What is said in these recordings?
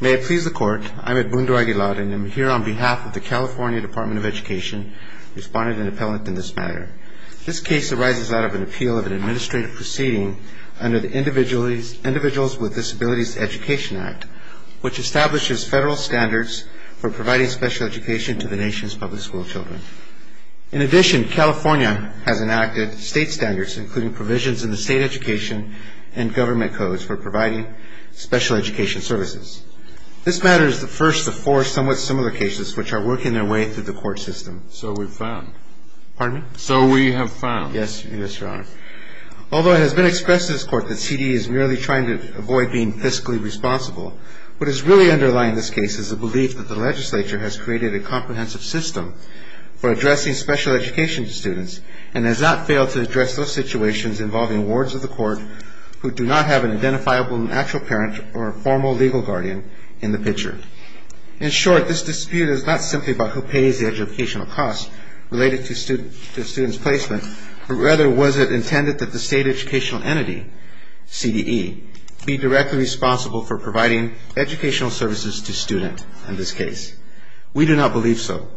May it please the Court, I am Edmundo Aguilar and I am here on behalf of the California Department of Education responding to an appellant in this matter. This case arises out of an appeal of an administrative proceeding under the Individuals with Disabilities Education Act, which establishes federal standards for providing special education to the nation's public school children. In addition, California has enacted state standards including provisions in the state education and government codes for providing special education services. This matter is the first of four somewhat similar cases which are working their way through the court system. Although it has been expressed in this court that CDE is merely trying to avoid being fiscally responsible, what is really underlying this case is the belief that the legislature has created a comprehensive system for addressing special education to students and has not failed to address those situations involving wards of the court who do not have an identifiable natural parent or a formal legal guardian in the picture. In short, this dispute is not simply about who pays the educational cost related to student's placement, but rather was it intended that the state educational entity, CDE, be directly responsible for providing educational services to students in this case. We do not believe so.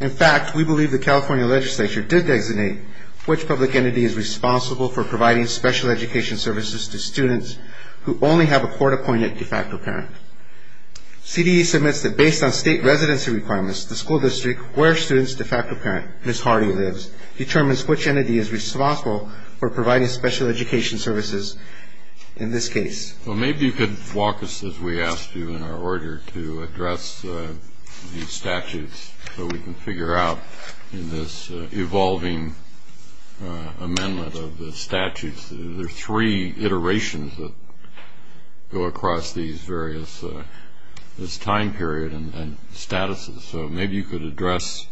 In fact, we believe the California legislature did designate which public entity is responsible for providing special education services to students who only have a court-appointed de facto parent. CDE submits that based on state residency requirements, the school district where student's de facto parent, Ms. Hardy, lives determines which entity is responsible for providing special education services in this case. Well, maybe you could walk us, as we asked you in our order, to address these statutes so we can figure out in this evolving amendment of the statutes, there are three iterations that go across these various time period and statuses, so maybe you could address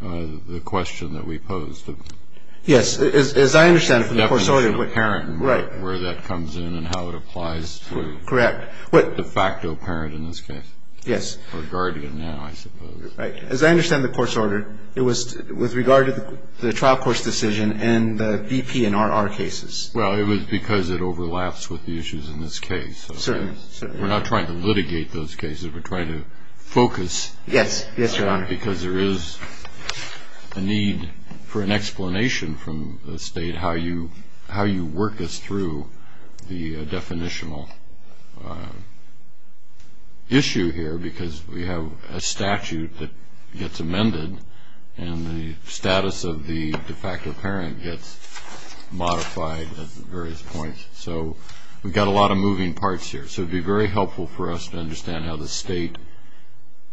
the question that we posed. Yes, as I understand it from the perspective of the parent and where that comes in and how it applies to the de facto parent in this case, or guardian now, I suppose. As I understand the court's order, it was with regard to the trial court's decision and the BP and RR cases. Well, it was because it overlaps with the issues in this case. We're not trying to litigate those cases, we're trying to focus because there is a need for an explanation from the state how you work this through the definitional issue here because we have a statute that gets amended and the status of the de facto parent gets modified at various points, so we've got a lot of moving parts here, so it would be very helpful for us to understand how the state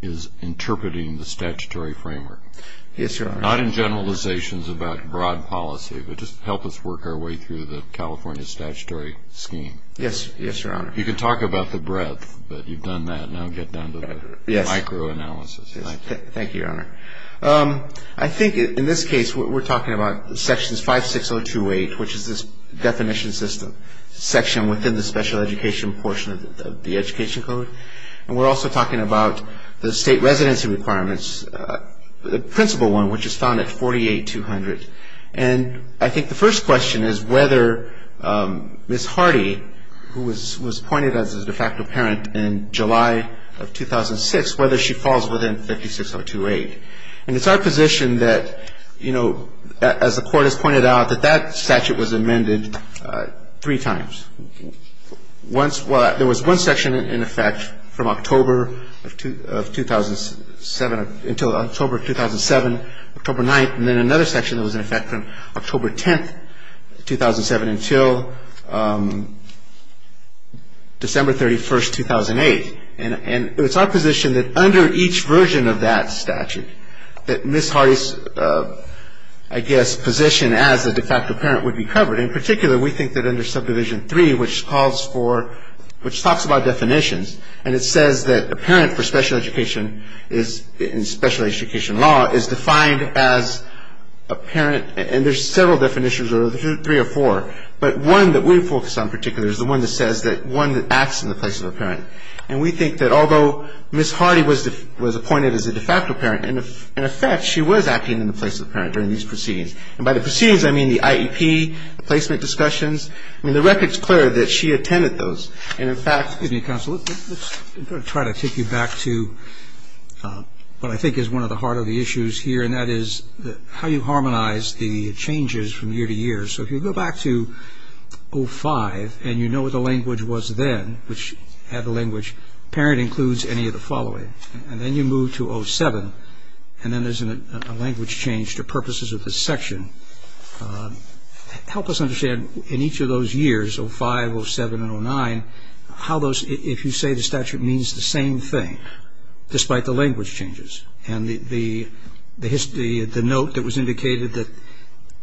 is interpreting the statutory framework. Yes, Your Honor. Not in generalizations about broad policy, but just help us work our way through the California statutory scheme. Yes, Your Honor. You can talk about the breadth, but you've done that, now get down to the micro analysis. Thank you, Your Honor. I think in this case, what we're talking about is sections 56028, which is this definition system section within the special education portion of the education code, and we're also talking about the state residency requirements, the principal one, which is found at 48200, and I think the first question is whether Ms. Hardy, who was pointed as a de facto parent in July of 2006, whether she falls within 56028, and it's our position that, you know, as the court has pointed out, that that statute was amended three times. Once, well, there was one section in effect from October of 2007 until October of 2007, October 9th, and then another section that was in effect from October 10th, 2007, until December 31st, 2008, and it's our position that under each version of that statute, that Ms. Hardy's, I guess, position as a de facto parent would be covered. In particular, we think that under subdivision 3, which calls for, which talks about definitions, and it says that a parent for special education is, in special education law, is defined as a parent, and there's several definitions, there's three or four, but one that we focus on particularly is the one that says that one that acts in the place of a parent, and we think that although Ms. Hardy was appointed as a de facto parent, in effect, she was acting in the place of a parent during these proceedings, and by the proceedings, I mean the IEP, the placement discussions, I mean, the record's clear that she attended those, and in fact Excuse me, counsel, let's try to take you back to what I think is one of the heart of the issues here, and that is how you harmonize the changes from year to year, so if you go back to 05, and you know what the language was then, which had the language, parent includes any of the following, and then you move to 07, and then there's a language change to the purpose of the section. Help us understand in each of those years, 05, 07, and 09, how those if you say the statute means the same thing, despite the language changes, and the note that was indicated that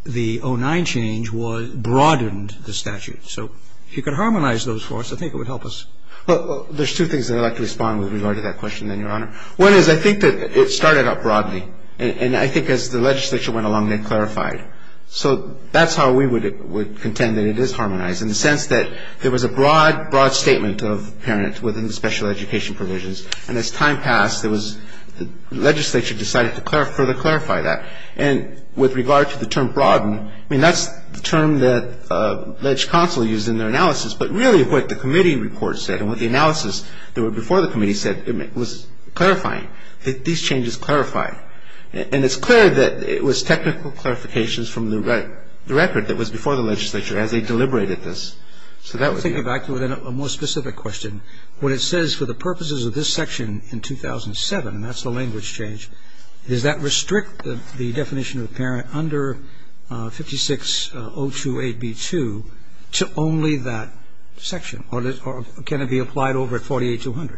the 09 change broadened the statute, so if you could harmonize those for us, I think it would help us. There's two things that I'd like to respond with regard to that question, then, Your Honor. One is I think that it started out broadly, and I think as the legislature went along they clarified. So that's how we would contend that it is harmonized, in the sense that there was a broad, broad statement of parent within the special education provisions, and as time passed, there was, the legislature decided to further clarify that. And with regard to the term broaden, I mean, that's the term that ledge counsel used in their analysis, but really what the committee report said, and what the analysis that were before the legislature, as they deliberated this, so that would be. I think that back to a more specific question. When it says, for the purposes of this section in 2007, and that's the language change, does that restrict the definition of the parent under 56028B2 to only that section, or can it be applied over at 48200?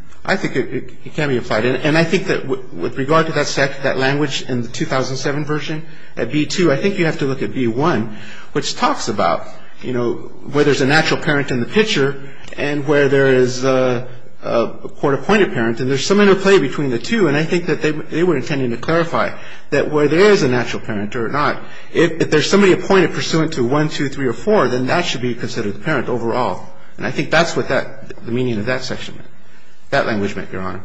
And I think that with regard to that language in the 2007 version, at B2, I think you have to look at B1, which talks about, you know, where there's a natural parent in the picture, and where there is a court-appointed parent, and there's some interplay between the two, and I think that they were intending to clarify that where there is a natural parent or not, if there's somebody appointed pursuant to 1, 2, 3, or 4, then that should be considered parent overall. And I think that's what that, the meaning of that section, that language change, is that it's not a requirement, Your Honor,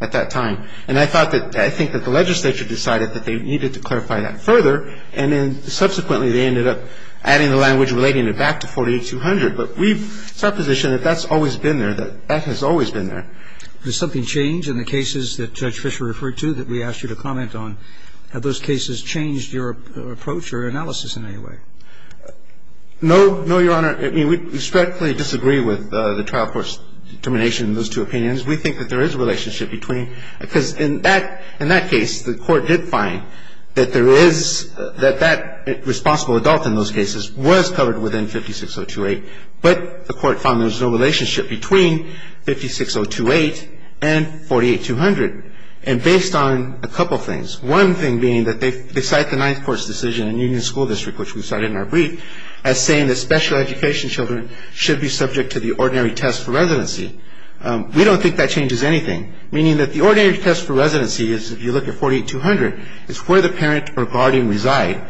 at that time. And I thought that, I think that the legislature decided that they needed to clarify that further, and then subsequently they ended up adding the language relating it back to 48200. But we've, it's our position that that's always been there, that that has always been there. Roberts. Does something change in the cases that Judge Fischer referred to that we asked you to comment on? Have those cases changed your approach or analysis in any way? No, no, Your Honor. I mean, we strictly disagree with the trial court's determination in those two opinions. We think that there is a relationship between, because in that case, the court did find that there is, that that responsible adult in those cases was covered within 56028, but the court found there was no relationship between 56028 and 48200. And based on a couple of things, one thing being that they cite the Ninth Court's decision in Union School District, which we've cited in the case, that we've cited in our brief, as saying that special education children should be subject to the ordinary test for residency. We don't think that changes anything, meaning that the ordinary test for residency is, if you look at 48200, is where the parent or guardian reside.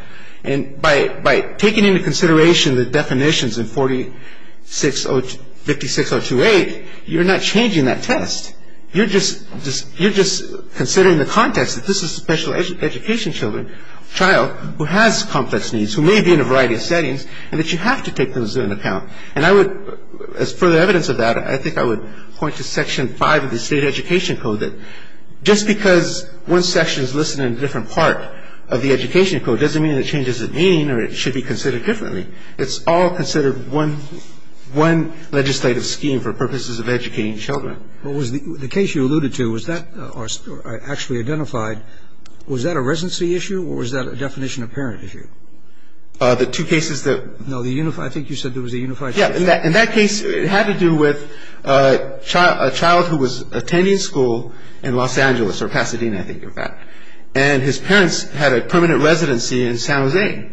And by taking into consideration the definitions in 56028, you're not changing that test. You're just, you're just considering the context that this is a special education child who has complex needs, who may be in a variety of settings, and that you have to take those into account. And I would, as further evidence of that, I think I would point to Section 5 of the State Education Code that just because one section is listed in a different part of the Education Code doesn't mean that it changes its meaning or it should be considered differently. It's all considered one, one legislative scheme for purposes of educating children. Well, was the case you alluded to, was that, or actually identified, was that a residency issue or was that a definition of parent issue? The two cases that No, the unified, I think you said there was a unified case Yeah, in that case, it had to do with a child who was attending school in Los Angeles, or Pasadena, I think, in fact. And his parents had a permanent residency in San Jose.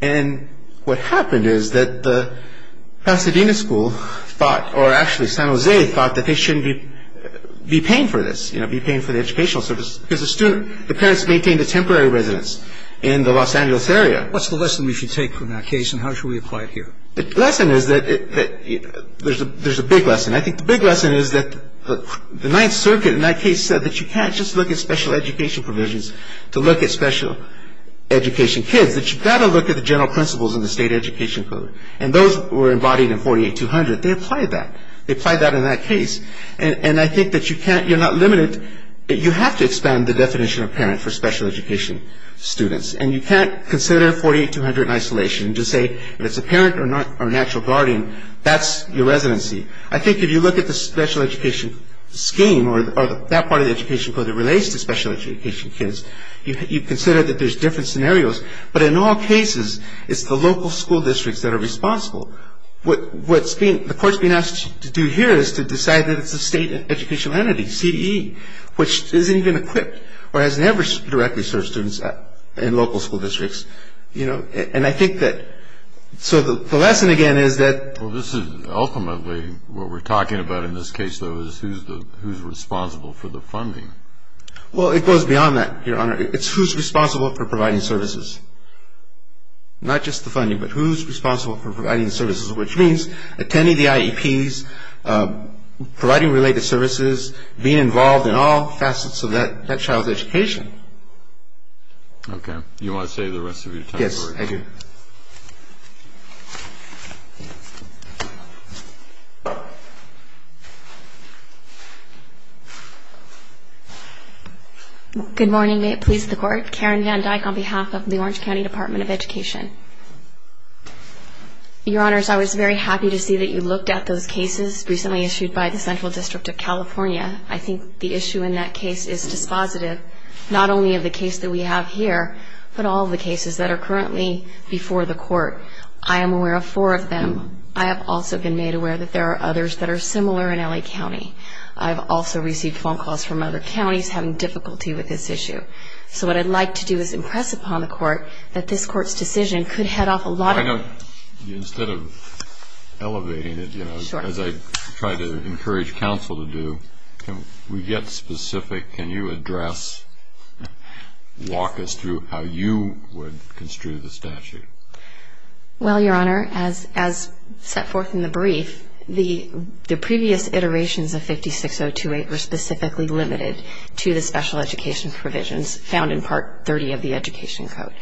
And what happened is that the Pasadena school thought, or actually San Jose thought, that they shouldn't be paying for this, you know, be paying for the educational service because the student, the parents maintained a temporary residence in the Los Angeles area. What's the lesson we should take from that case and how should we apply it here? The lesson is that there's a big lesson. I think the big lesson is that the Ninth Circuit in that case said that you can't just look at special education provisions to look at special education kids, that you've got to look at the general principles in the State Education Code. And those were embodied in 48-200. They applied that. They applied that in that case. And I think that you can't, you're not limited, you have to expand the definition of parent for special education students. And you can't consider 48-200 in isolation and just say if it's a parent or an actual guardian, that's your residency. I think if you look at the special education scheme or that part of the education code that relates to special education kids, you consider that there's different scenarios. But in all cases, it's the local school districts that are responsible. What's being, the court's being asked to do here is to decide that it's a state educational entity, CDE, which isn't even for students in local school districts. You know, and I think that, so the lesson again is that... Well, this is ultimately what we're talking about in this case, though, is who's responsible for the funding. Well, it goes beyond that, Your Honor. It's who's responsible for providing services. Not just the funding, but who's responsible for providing services, which means attending the IEPs, providing related services, being involved in all facets of that child's education. Okay. You want to save the rest of your time? Yes, I do. Good morning. May it please the Court. Karen Van Dyke on behalf of the Orange County Department of Education. Your Honors, I was very happy to see that you looked at those cases recently issued by the Central District of California. I think the issue in that case is dispositive, not only of the case that we have here, but all of the cases that are currently before the Court. I am aware of four of them. I have also been made aware that there are others that are similar in L.A. County. I've also received phone calls from other counties having difficulty with this issue. So what I'd like to do is impress upon the Court that this Court's decision could head off a lot of... As I try to encourage counsel to do, we get specific. Can you address, walk us through how you would construe the statute? Well, Your Honor, as set forth in the brief, the previous iterations of 56028 were specifically limited to the special education provisions found in Part 30 of the Education Code.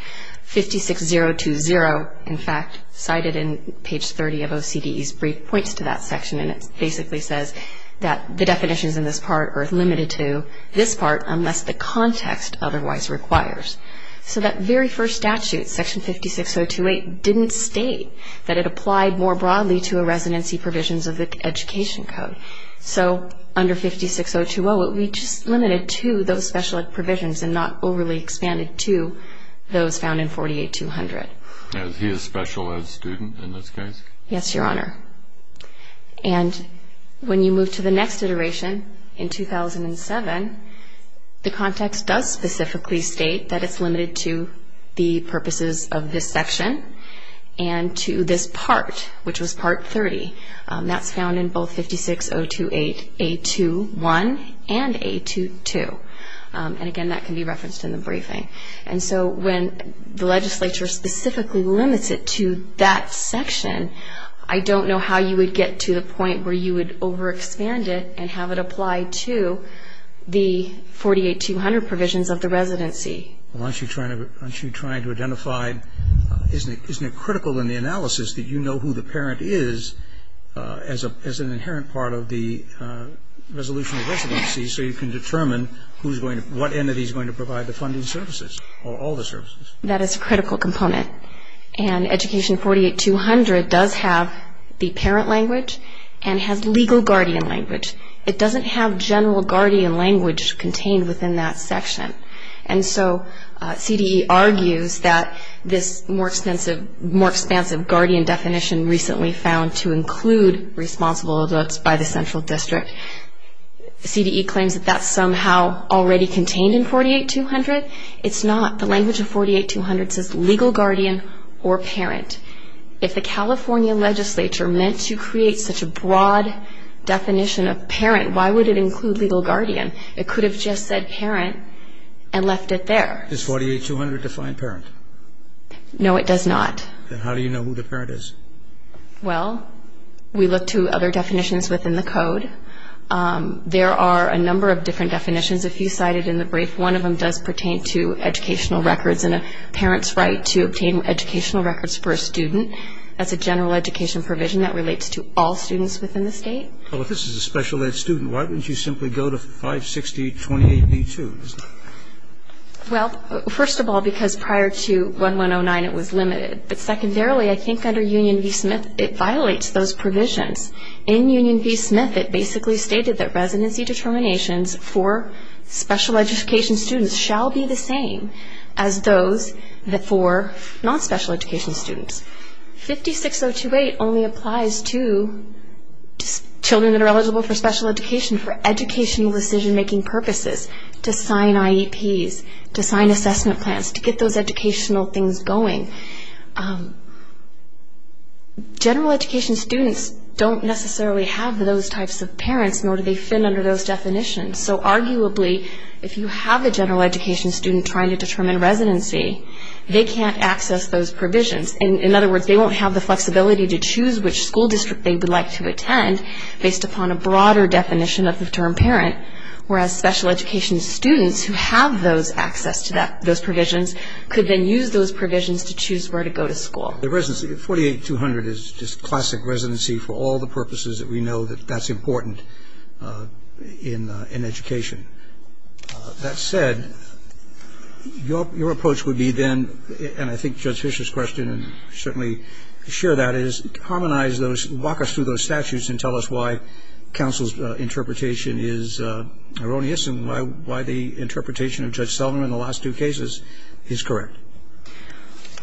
56020, in fact, cited in page 30 of OCDE's brief, points to that section and it basically says that the definitions in this part are limited to this part unless the context otherwise requires. So that very first statute, Section 56028, didn't state that it applied more broadly to a residency provisions of the Education Code. So under 56020, it would be just limited to those special ed. provisions and not overly expanded to those found in 48200. Now, is he a special ed. student in this case? Yes, Your Honor. And when you move to the next iteration, in 2007, the context does specifically state that it's limited to the purposes of this section and to this part, which was Part 30. That's found in both 56028A21 and A22. And again, that can be referenced in the briefing. And so when the legislature specifically limits it to that section, I don't know how you would get to the point where you would overexpand it and have it apply to the 48200 provisions of the residency. Well, aren't you trying to identify, isn't it critical in the analysis that you know who the parent is as an inherent part of the resolution of residency so you can determine what entity is going to provide the funding services or all the services? That is a critical component. And Education 48200 does have the parent language and has legal guardian language. It doesn't have general guardian language contained within that section. And so CDE argues that this more expansive guardian definition recently found to include responsible adults by the central district, CDE claims that that's somehow already contained in 48200 says legal guardian or parent. If the California legislature meant to create such a broad definition of parent, why would it include legal guardian? It could have just said parent and left it there. Does 48200 define parent? No, it does not. Then how do you know who the parent is? Well, we look to other definitions within the code. There are a number of different definitions. If you cite it in the brief, one of them does pertain to educational records and a parent's right to obtain educational records for a student. That's a general education provision that relates to all students within the state. Well, if this is a special ed student, why wouldn't you simply go to 560.28b2? Well, first of all, because prior to 1109, it was limited. But secondarily, I think under Union v. Smith, it violates those provisions. In Union v. Smith, it basically stated that residency determinations for special education students shall be the same as those for non-special education students. 560.28 only applies to children that are eligible for special education for educational decision-making purposes, to sign IEPs, to sign assessment plans, to get those educational things going. General education students don't necessarily have those types of parents, nor do they fit under those definitions. So arguably, if you have a general education student trying to determine residency, they can't access those provisions. In other words, they won't have the flexibility to choose which school district they would like to attend based upon a broader definition of the term parent, whereas special education students who have those access to those provisions could then use those provisions to choose where to go to school. The residency, 48200, is just classic residency for all the purposes that we have discussed. So I think it's important in education. That said, your approach would be then and I think Judge Fischer's question certainly share that, is harmonize those, walk us through those statutes and tell us why counsel's interpretation is erroneous and why the interpretation of Judge Selmer in the last two cases is correct.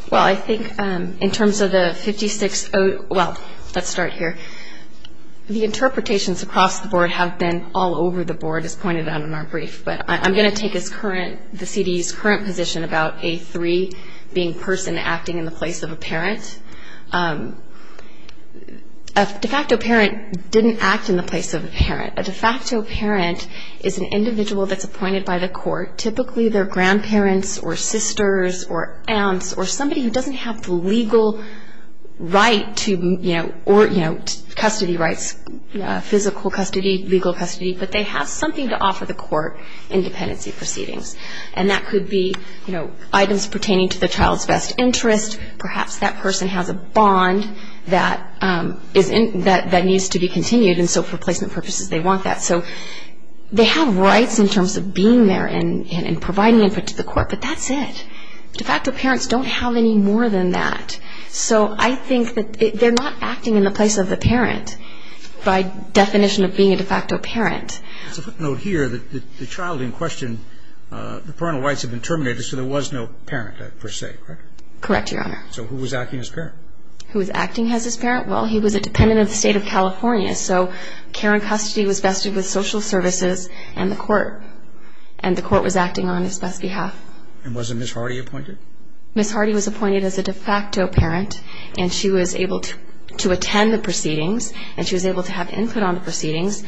Well, I think in terms of the 56, well, let's start here. The interpretations across the board have been all over the board, as pointed out in our brief, but I'm going to take the CD's current position about A3 being person acting in the place of a parent. A de facto parent didn't act in the place of a parent. A de facto parent is an individual that's appointed by the court, typically their aunts or somebody who doesn't have the legal right to, you know, custody rights, physical custody, legal custody, but they have something to offer the court in dependency proceedings. And that could be, you know, items pertaining to the child's best interest, perhaps that person has a bond that needs to be continued and so for placement purposes they want that. So they have rights in terms of being there and de facto parents don't have any more than that. So I think that they're not acting in the place of the parent by definition of being a de facto parent. It's a footnote here that the child in question, the parental rights have been terminated so there was no parent per se, correct? Correct, Your Honor. So who was acting as parent? Who was acting as his parent? Well, he was a dependent of the state of California, so care and custody was vested with social services and the court and the court was acting on his best behalf. And wasn't Ms. Hardy appointed? Ms. Hardy was appointed as a de facto parent and she was able to attend the proceedings and she was able to have input on the proceedings.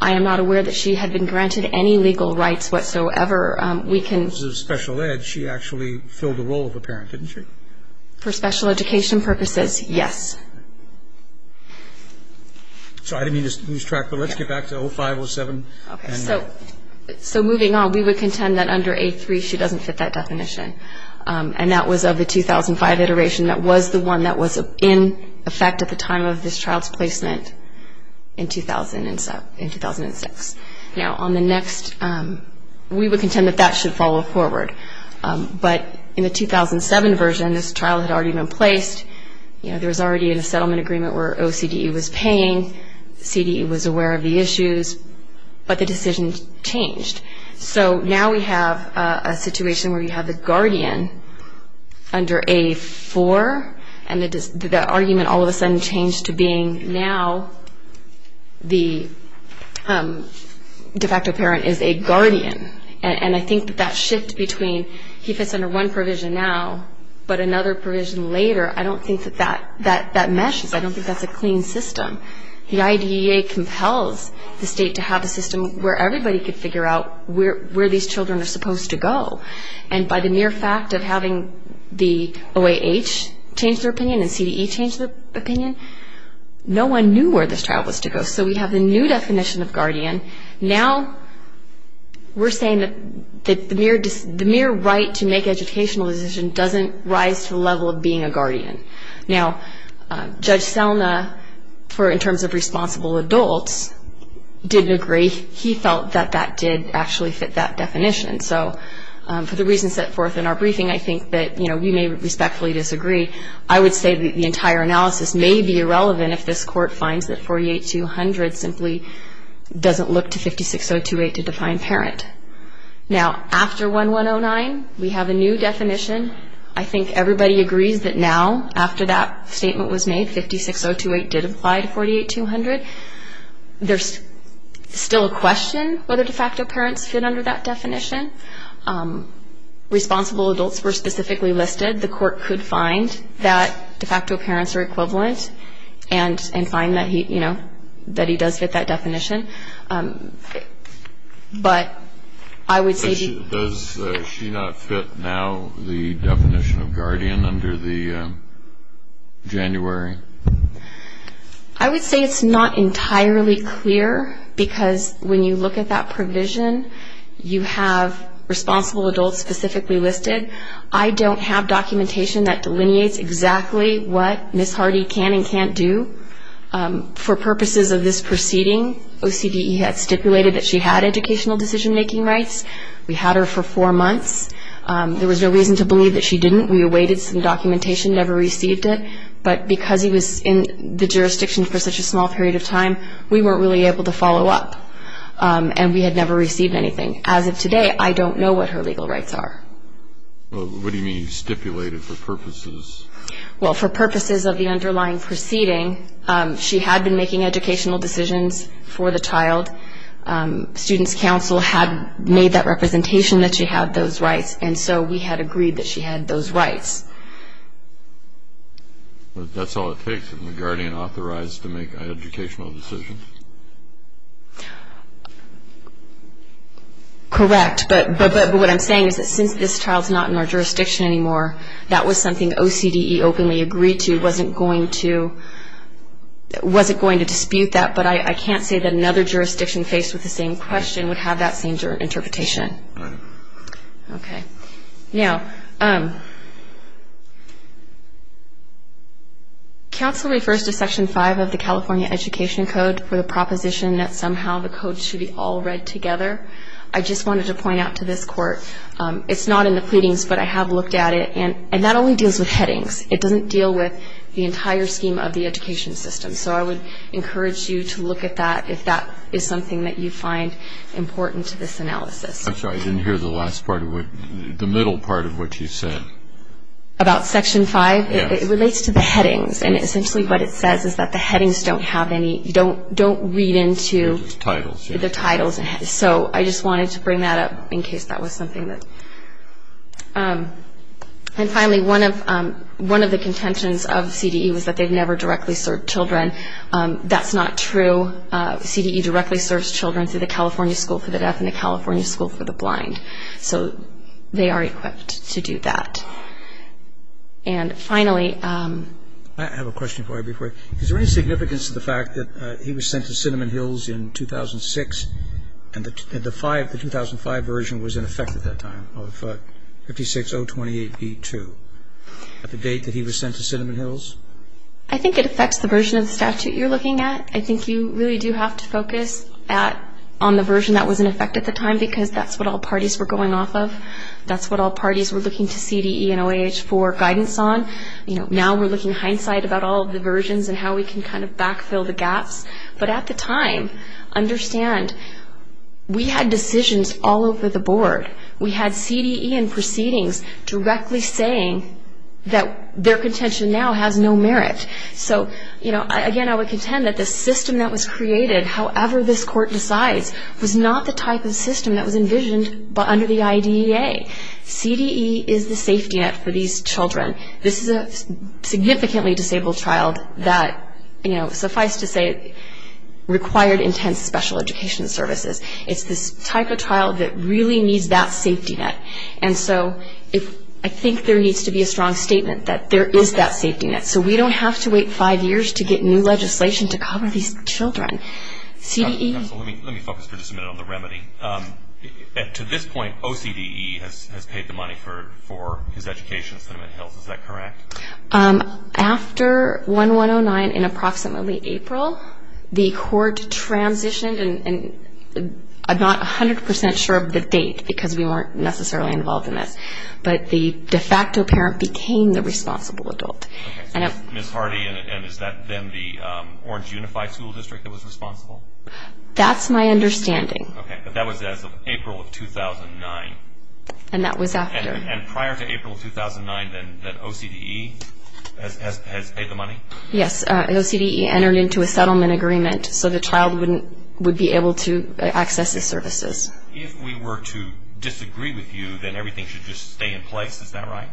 I am not aware that she had been granted any legal rights whatsoever. We can As a special ed, she actually filled the role of a parent, didn't she? For special education purposes, yes. So I didn't mean to lose track, but let's get back to 05, 07. Okay, so moving on, we would contend that under A3, she doesn't fit that definition. And that was of the 2005 iteration that was the one that was in effect at the time of this child's placement in 2006. Now on the next, we would contend that that should follow forward. But in the 2007 version, this child had already been placed, there was already a settlement agreement where OCDE was paying, CDE was aware of the issues, but the decision changed. So now we have a situation where you have the guardian under A4 and the argument all of a sudden changed to being now the de facto parent is a guardian. And I think that that shift between he fits under one provision now, but another provision later, I don't think that that meshes. I don't think that's a clean system. The IDEA compels the state to have a system where everybody could figure out where these children are supposed to go. And by the mere fact of having the OAH change their opinion and CDE change their opinion, no one knew where this child was to go. So we have the new definition of guardian. Now we're saying that the mere right to make for in terms of responsible adults didn't agree. He felt that that did actually fit that definition. So for the reasons set forth in our briefing, I think that we may respectfully disagree. I would say that the entire analysis may be irrelevant if this court finds that 48200 simply doesn't look to 56028 to define parent. Now after 1109, we have a new definition. I think that statement was made. 56028 did apply to 48200. There's still a question whether de facto parents fit under that definition. Responsible adults were specifically listed. The court could find that de facto parents are equivalent and find that he does fit that definition. But I would say the definition of guardian under the January. I would say it's not entirely clear because when you look at that provision, you have responsible adults specifically listed. I don't have documentation that delineates exactly what Ms. Hardy can and can't do. For purposes of this proceeding, OCDE had educational decision-making rights. We had her for four months. There was no reason to believe that she didn't. We awaited some documentation, never received it. But because he was in the jurisdiction for such a small period of time, we weren't really able to follow up. And we had never received anything. As of today, I don't know what her legal rights are. What do you mean you stipulated for purposes? Well, for purposes of the underlying proceeding, she had been making educational decisions for the child. Student's counsel had made that representation that she had those rights. And so we had agreed that she had those rights. But that's all it takes if the guardian authorized to make educational decisions? Correct. But what I'm saying is that since this child's not in our jurisdiction anymore, that was something OCDE openly agreed to, wasn't going to dispute that. But I can't say that another jurisdiction faced with the same question would have that same interpretation. Right. Okay. Now, counsel refers to Section 5 of the California Education Code for the proposition that somehow the code should be all read together. I just wanted to point out to this Court, it's not in the pleadings, but I have looked at it. And that only deals with headings. It doesn't deal with the entire scheme of the education system. So I would encourage you to look at that if that is something that you find important to this analysis. I'm sorry, I didn't hear the last part of what, the middle part of what you said. About Section 5? Yes. It relates to the headings. And essentially what it says is that the headings don't have any, don't read into the titles. So I just wanted to bring that up in case that was something that... And finally, one of the contentions of CDE was that they've never directly served children. That's not true. CDE directly serves children through the California School for the Deaf and the California School for the Blind. So they are equipped to do that. And finally... I have a question for you before. Is there any significance to the fact that he was sent to Cinnamon Hills in 2006 and the 2005 version was in 2008B2? At the date that he was sent to Cinnamon Hills? I think it affects the version of the statute you're looking at. I think you really do have to focus on the version that was in effect at the time because that's what all parties were going off of. That's what all parties were looking to CDE and OAH for guidance on. Now we're looking hindsight about all of the versions and how we can kind of backfill the gaps. But at the time, understand, we had decisions all over the board. We had CDE and OAH proceedings directly saying that their contention now has no merit. So again, I would contend that the system that was created, however this court decides, was not the type of system that was envisioned under the IDEA. CDE is the safety net for these children. This is a significantly disabled child that, suffice to say, required intense special education services. It's this type of child that really needs that safety net. And so I think there needs to be a strong statement that there is that safety net. So we don't have to wait five years to get new legislation to cover these children. CDE? Let me focus for just a minute on the remedy. To this point, OCDE has paid the money for his education at Cinnamon Hills. Is that correct? After 1-1-0-9 in approximately April, the court transitioned and I'm not 100 percent sure of the date because we weren't necessarily involved in this. But the de facto parent became the responsible adult. Okay. So Ms. Hardy, is that then the Orange Unified School District that was responsible? That's my understanding. Okay. But that was as of April of 2009. And that was after. And prior to April of 2009, then, that OCDE has paid the money? Yes. OCDE entered into a settlement agreement so the child wouldn't, would be able to access his services. If we were to disagree with you, then everything should just stay in place. Is that right?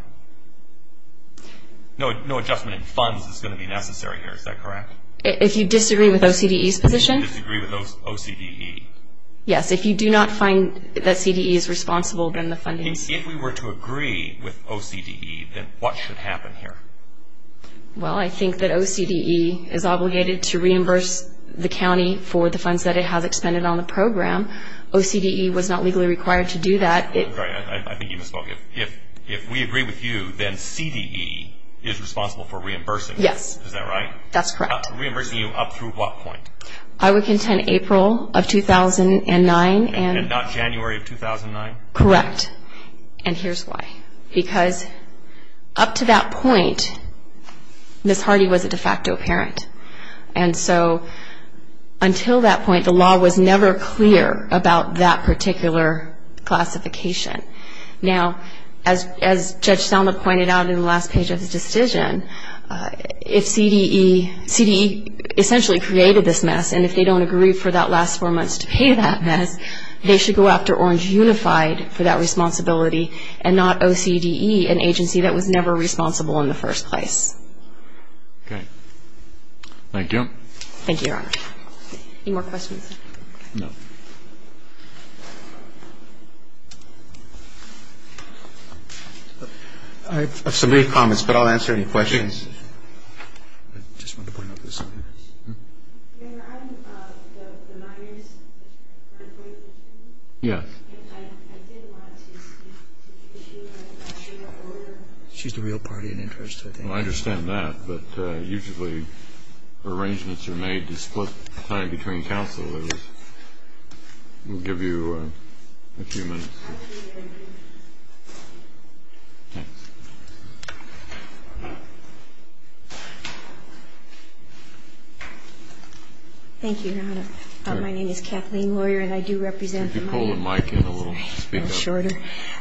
No adjustment in funds is going to be necessary here. Is that correct? If you disagree with OCDE's position? If you disagree with OCDE. Yes. If you do not find that CDE is responsible, then the funding... If we were to agree with OCDE, then what should happen here? Well, I think that OCDE is obligated to reimburse the county for the funds that it has expended on the program. OCDE was not legally required to do that. I think you misspoke. If we agree with you, then CDE is responsible for reimbursing. Yes. Is that right? That's correct. Reimbursing you up through what point? I would contend April of 2009 and... And not January of 2009? Correct. And here's why. Because up to that point, Ms. Hardy was a de facto parent. And so until that point, the law was never clear about that particular classification. Now, as Judge Selma pointed out in the last page of the decision, if CDE essentially created this mess, and if they don't agree for that last four months to pay that mess, they should go after Orange Unified for that responsibility, and not OCDE, an agency that was never responsible in the first place. Okay. Thank you. Thank you, Your Honor. Any more questions? No. I have some brief comments, but I'll answer any questions. I just wanted to point out this. Your Honor, I'm the minor's... Yes. And I did want to speak to the issue of... She's the real party in interest, I think. Well, I understand that. But usually, arrangements are made to split time between counsel. I will give you a few minutes. Thanks. Thank you, Your Honor. My name is Kathleen Lawyer, and I do represent... Could you pull the mic in a little? A little shorter.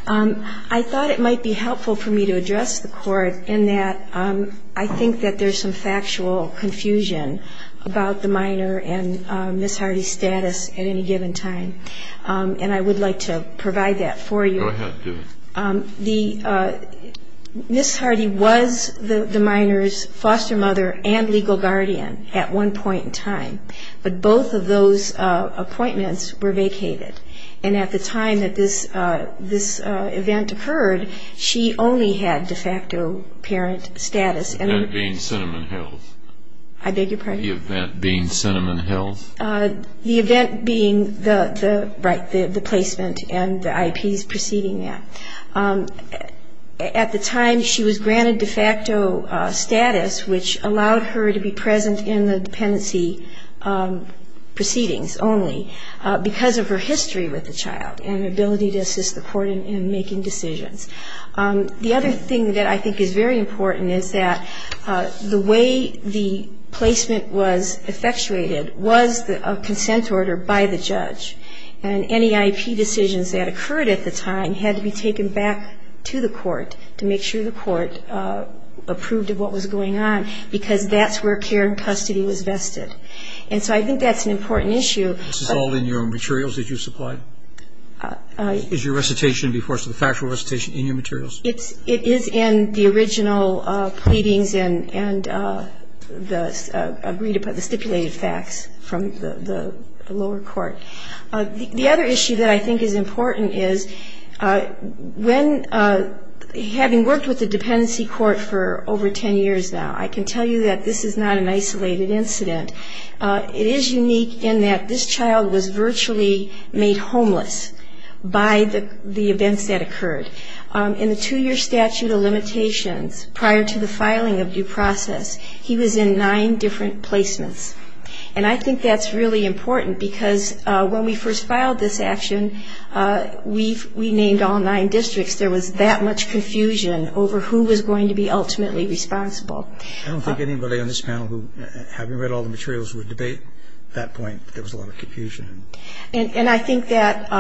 I thought it might be helpful for me to address the Court in that I think that there's some factual confusion about the minor and Ms. Hardy's status at any given time. And I would like to provide that for you. Go ahead. Do it. Ms. Hardy was the minor's foster mother and legal guardian. At one point in time. But both of those appointments were vacated. And at the time that this event occurred, she only had de facto parent status. The event being Cinnamon Hills. I beg your pardon? The event being Cinnamon Hills. The event being the placement and the IPs preceding that. At the time, she was granted de facto status, which allowed her to be present in the dependency proceedings only because of her history with the child and ability to assist the Court in making decisions. The other thing that I think is very important is that the way the placement was effectuated was a consent order by the judge. And any IP decisions that occurred at the time had to be taken back to the Court to make sure the Court approved of what was going on because that's where care and custody was vested. And so I think that's an important issue. This is all in your own materials that you supplied? Is your recitation, the factual recitation in your materials? It is in the original pleadings and the stipulated facts from the lower court. The other issue that I think is important is when having worked with the dependency court for over 10 years now, I can tell you that this is not an isolated incident. It is unique in that this child was virtually made homeless by the events that occurred. In the two-year statute of limitations, prior to the filing of due process, he was in nine different placements. And I think that's really important because when we first filed this action, we named all nine districts. There was that much confusion over who was going to be ultimately responsible. I don't think anybody on this panel, having read all the materials, would debate that point. There was a lot of confusion. And I think that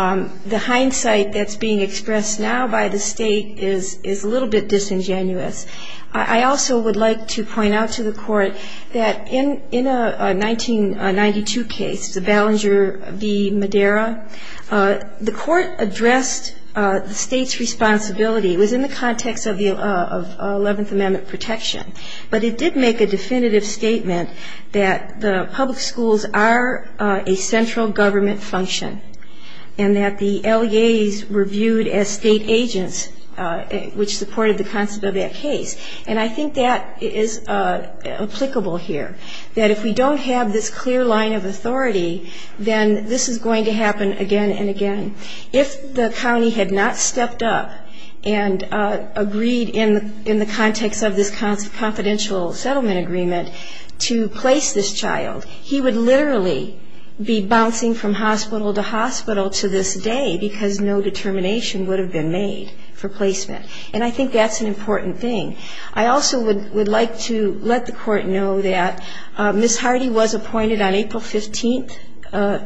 the hindsight that's being expressed now by the State is a little bit disingenuous. I also would like to point out to the Court that in a 1992 case, Ballenger v. Madera, the Court addressed the State's responsibility. It was in the context of 11th Amendment protection. But it did make a definitive statement that the public schools are a central government function and that the LEAs were viewed as State agents, which supported the concept of that case. And I think that is applicable here, that if we don't have this clear line of authority, then this is going to happen again and again. If the county had not stepped up and agreed in the context of this confidential settlement agreement to place this child, he would literally be bouncing from hospital to hospital to this day because no determination would have been made for placement. And I think that's an important thing. I also would like to let the Court know that Ms. Hardy was appointed on April 15th,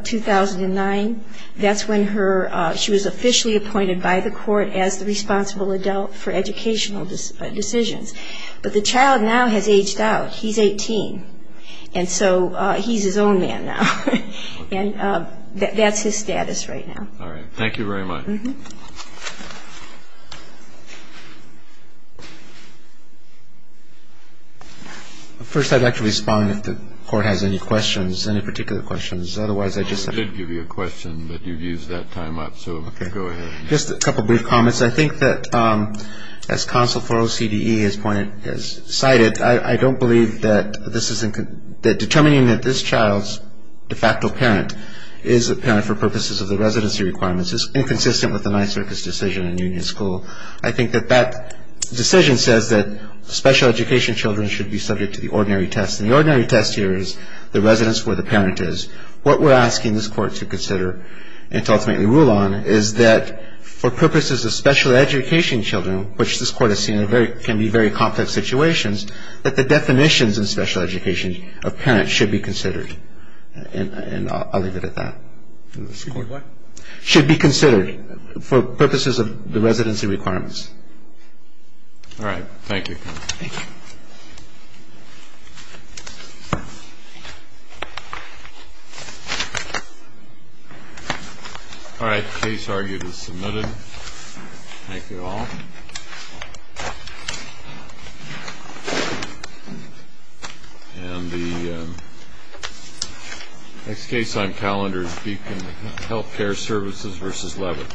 2009. That's when she was officially appointed by the Court as the responsible adult for educational decisions. But the child now has aged out. He's 18. And so he's his own man now. And that's his status right now. Thank you very much. First, I'd like to respond if the Court has any questions, any particular questions. I did give you a question, but you've used that time up, so go ahead. Just a couple of brief comments. I think that as counsel for OCDE has cited, I don't believe that determining that this child's de facto parent is a parent for purposes of the residency requirements is inconsistent with the Nyserkes decision in Union School. I think that that decision says that special education children should be subject to the ordinary test. And the ordinary test here is the residence where the parent is. What we're asking this Court to consider and to ultimately rule on is that for purposes of special education children, which this Court has seen can be very complex situations, that the definitions in special education of parents should be considered. And I'll leave it at that. What? Should be considered for purposes of the residency requirements. All right. Thank you. Thank you. All right. Case argued is submitted. Thank you all. And the next case on calendar is Beacon Healthcare Services versus Leavitt. Thank you. Thank you.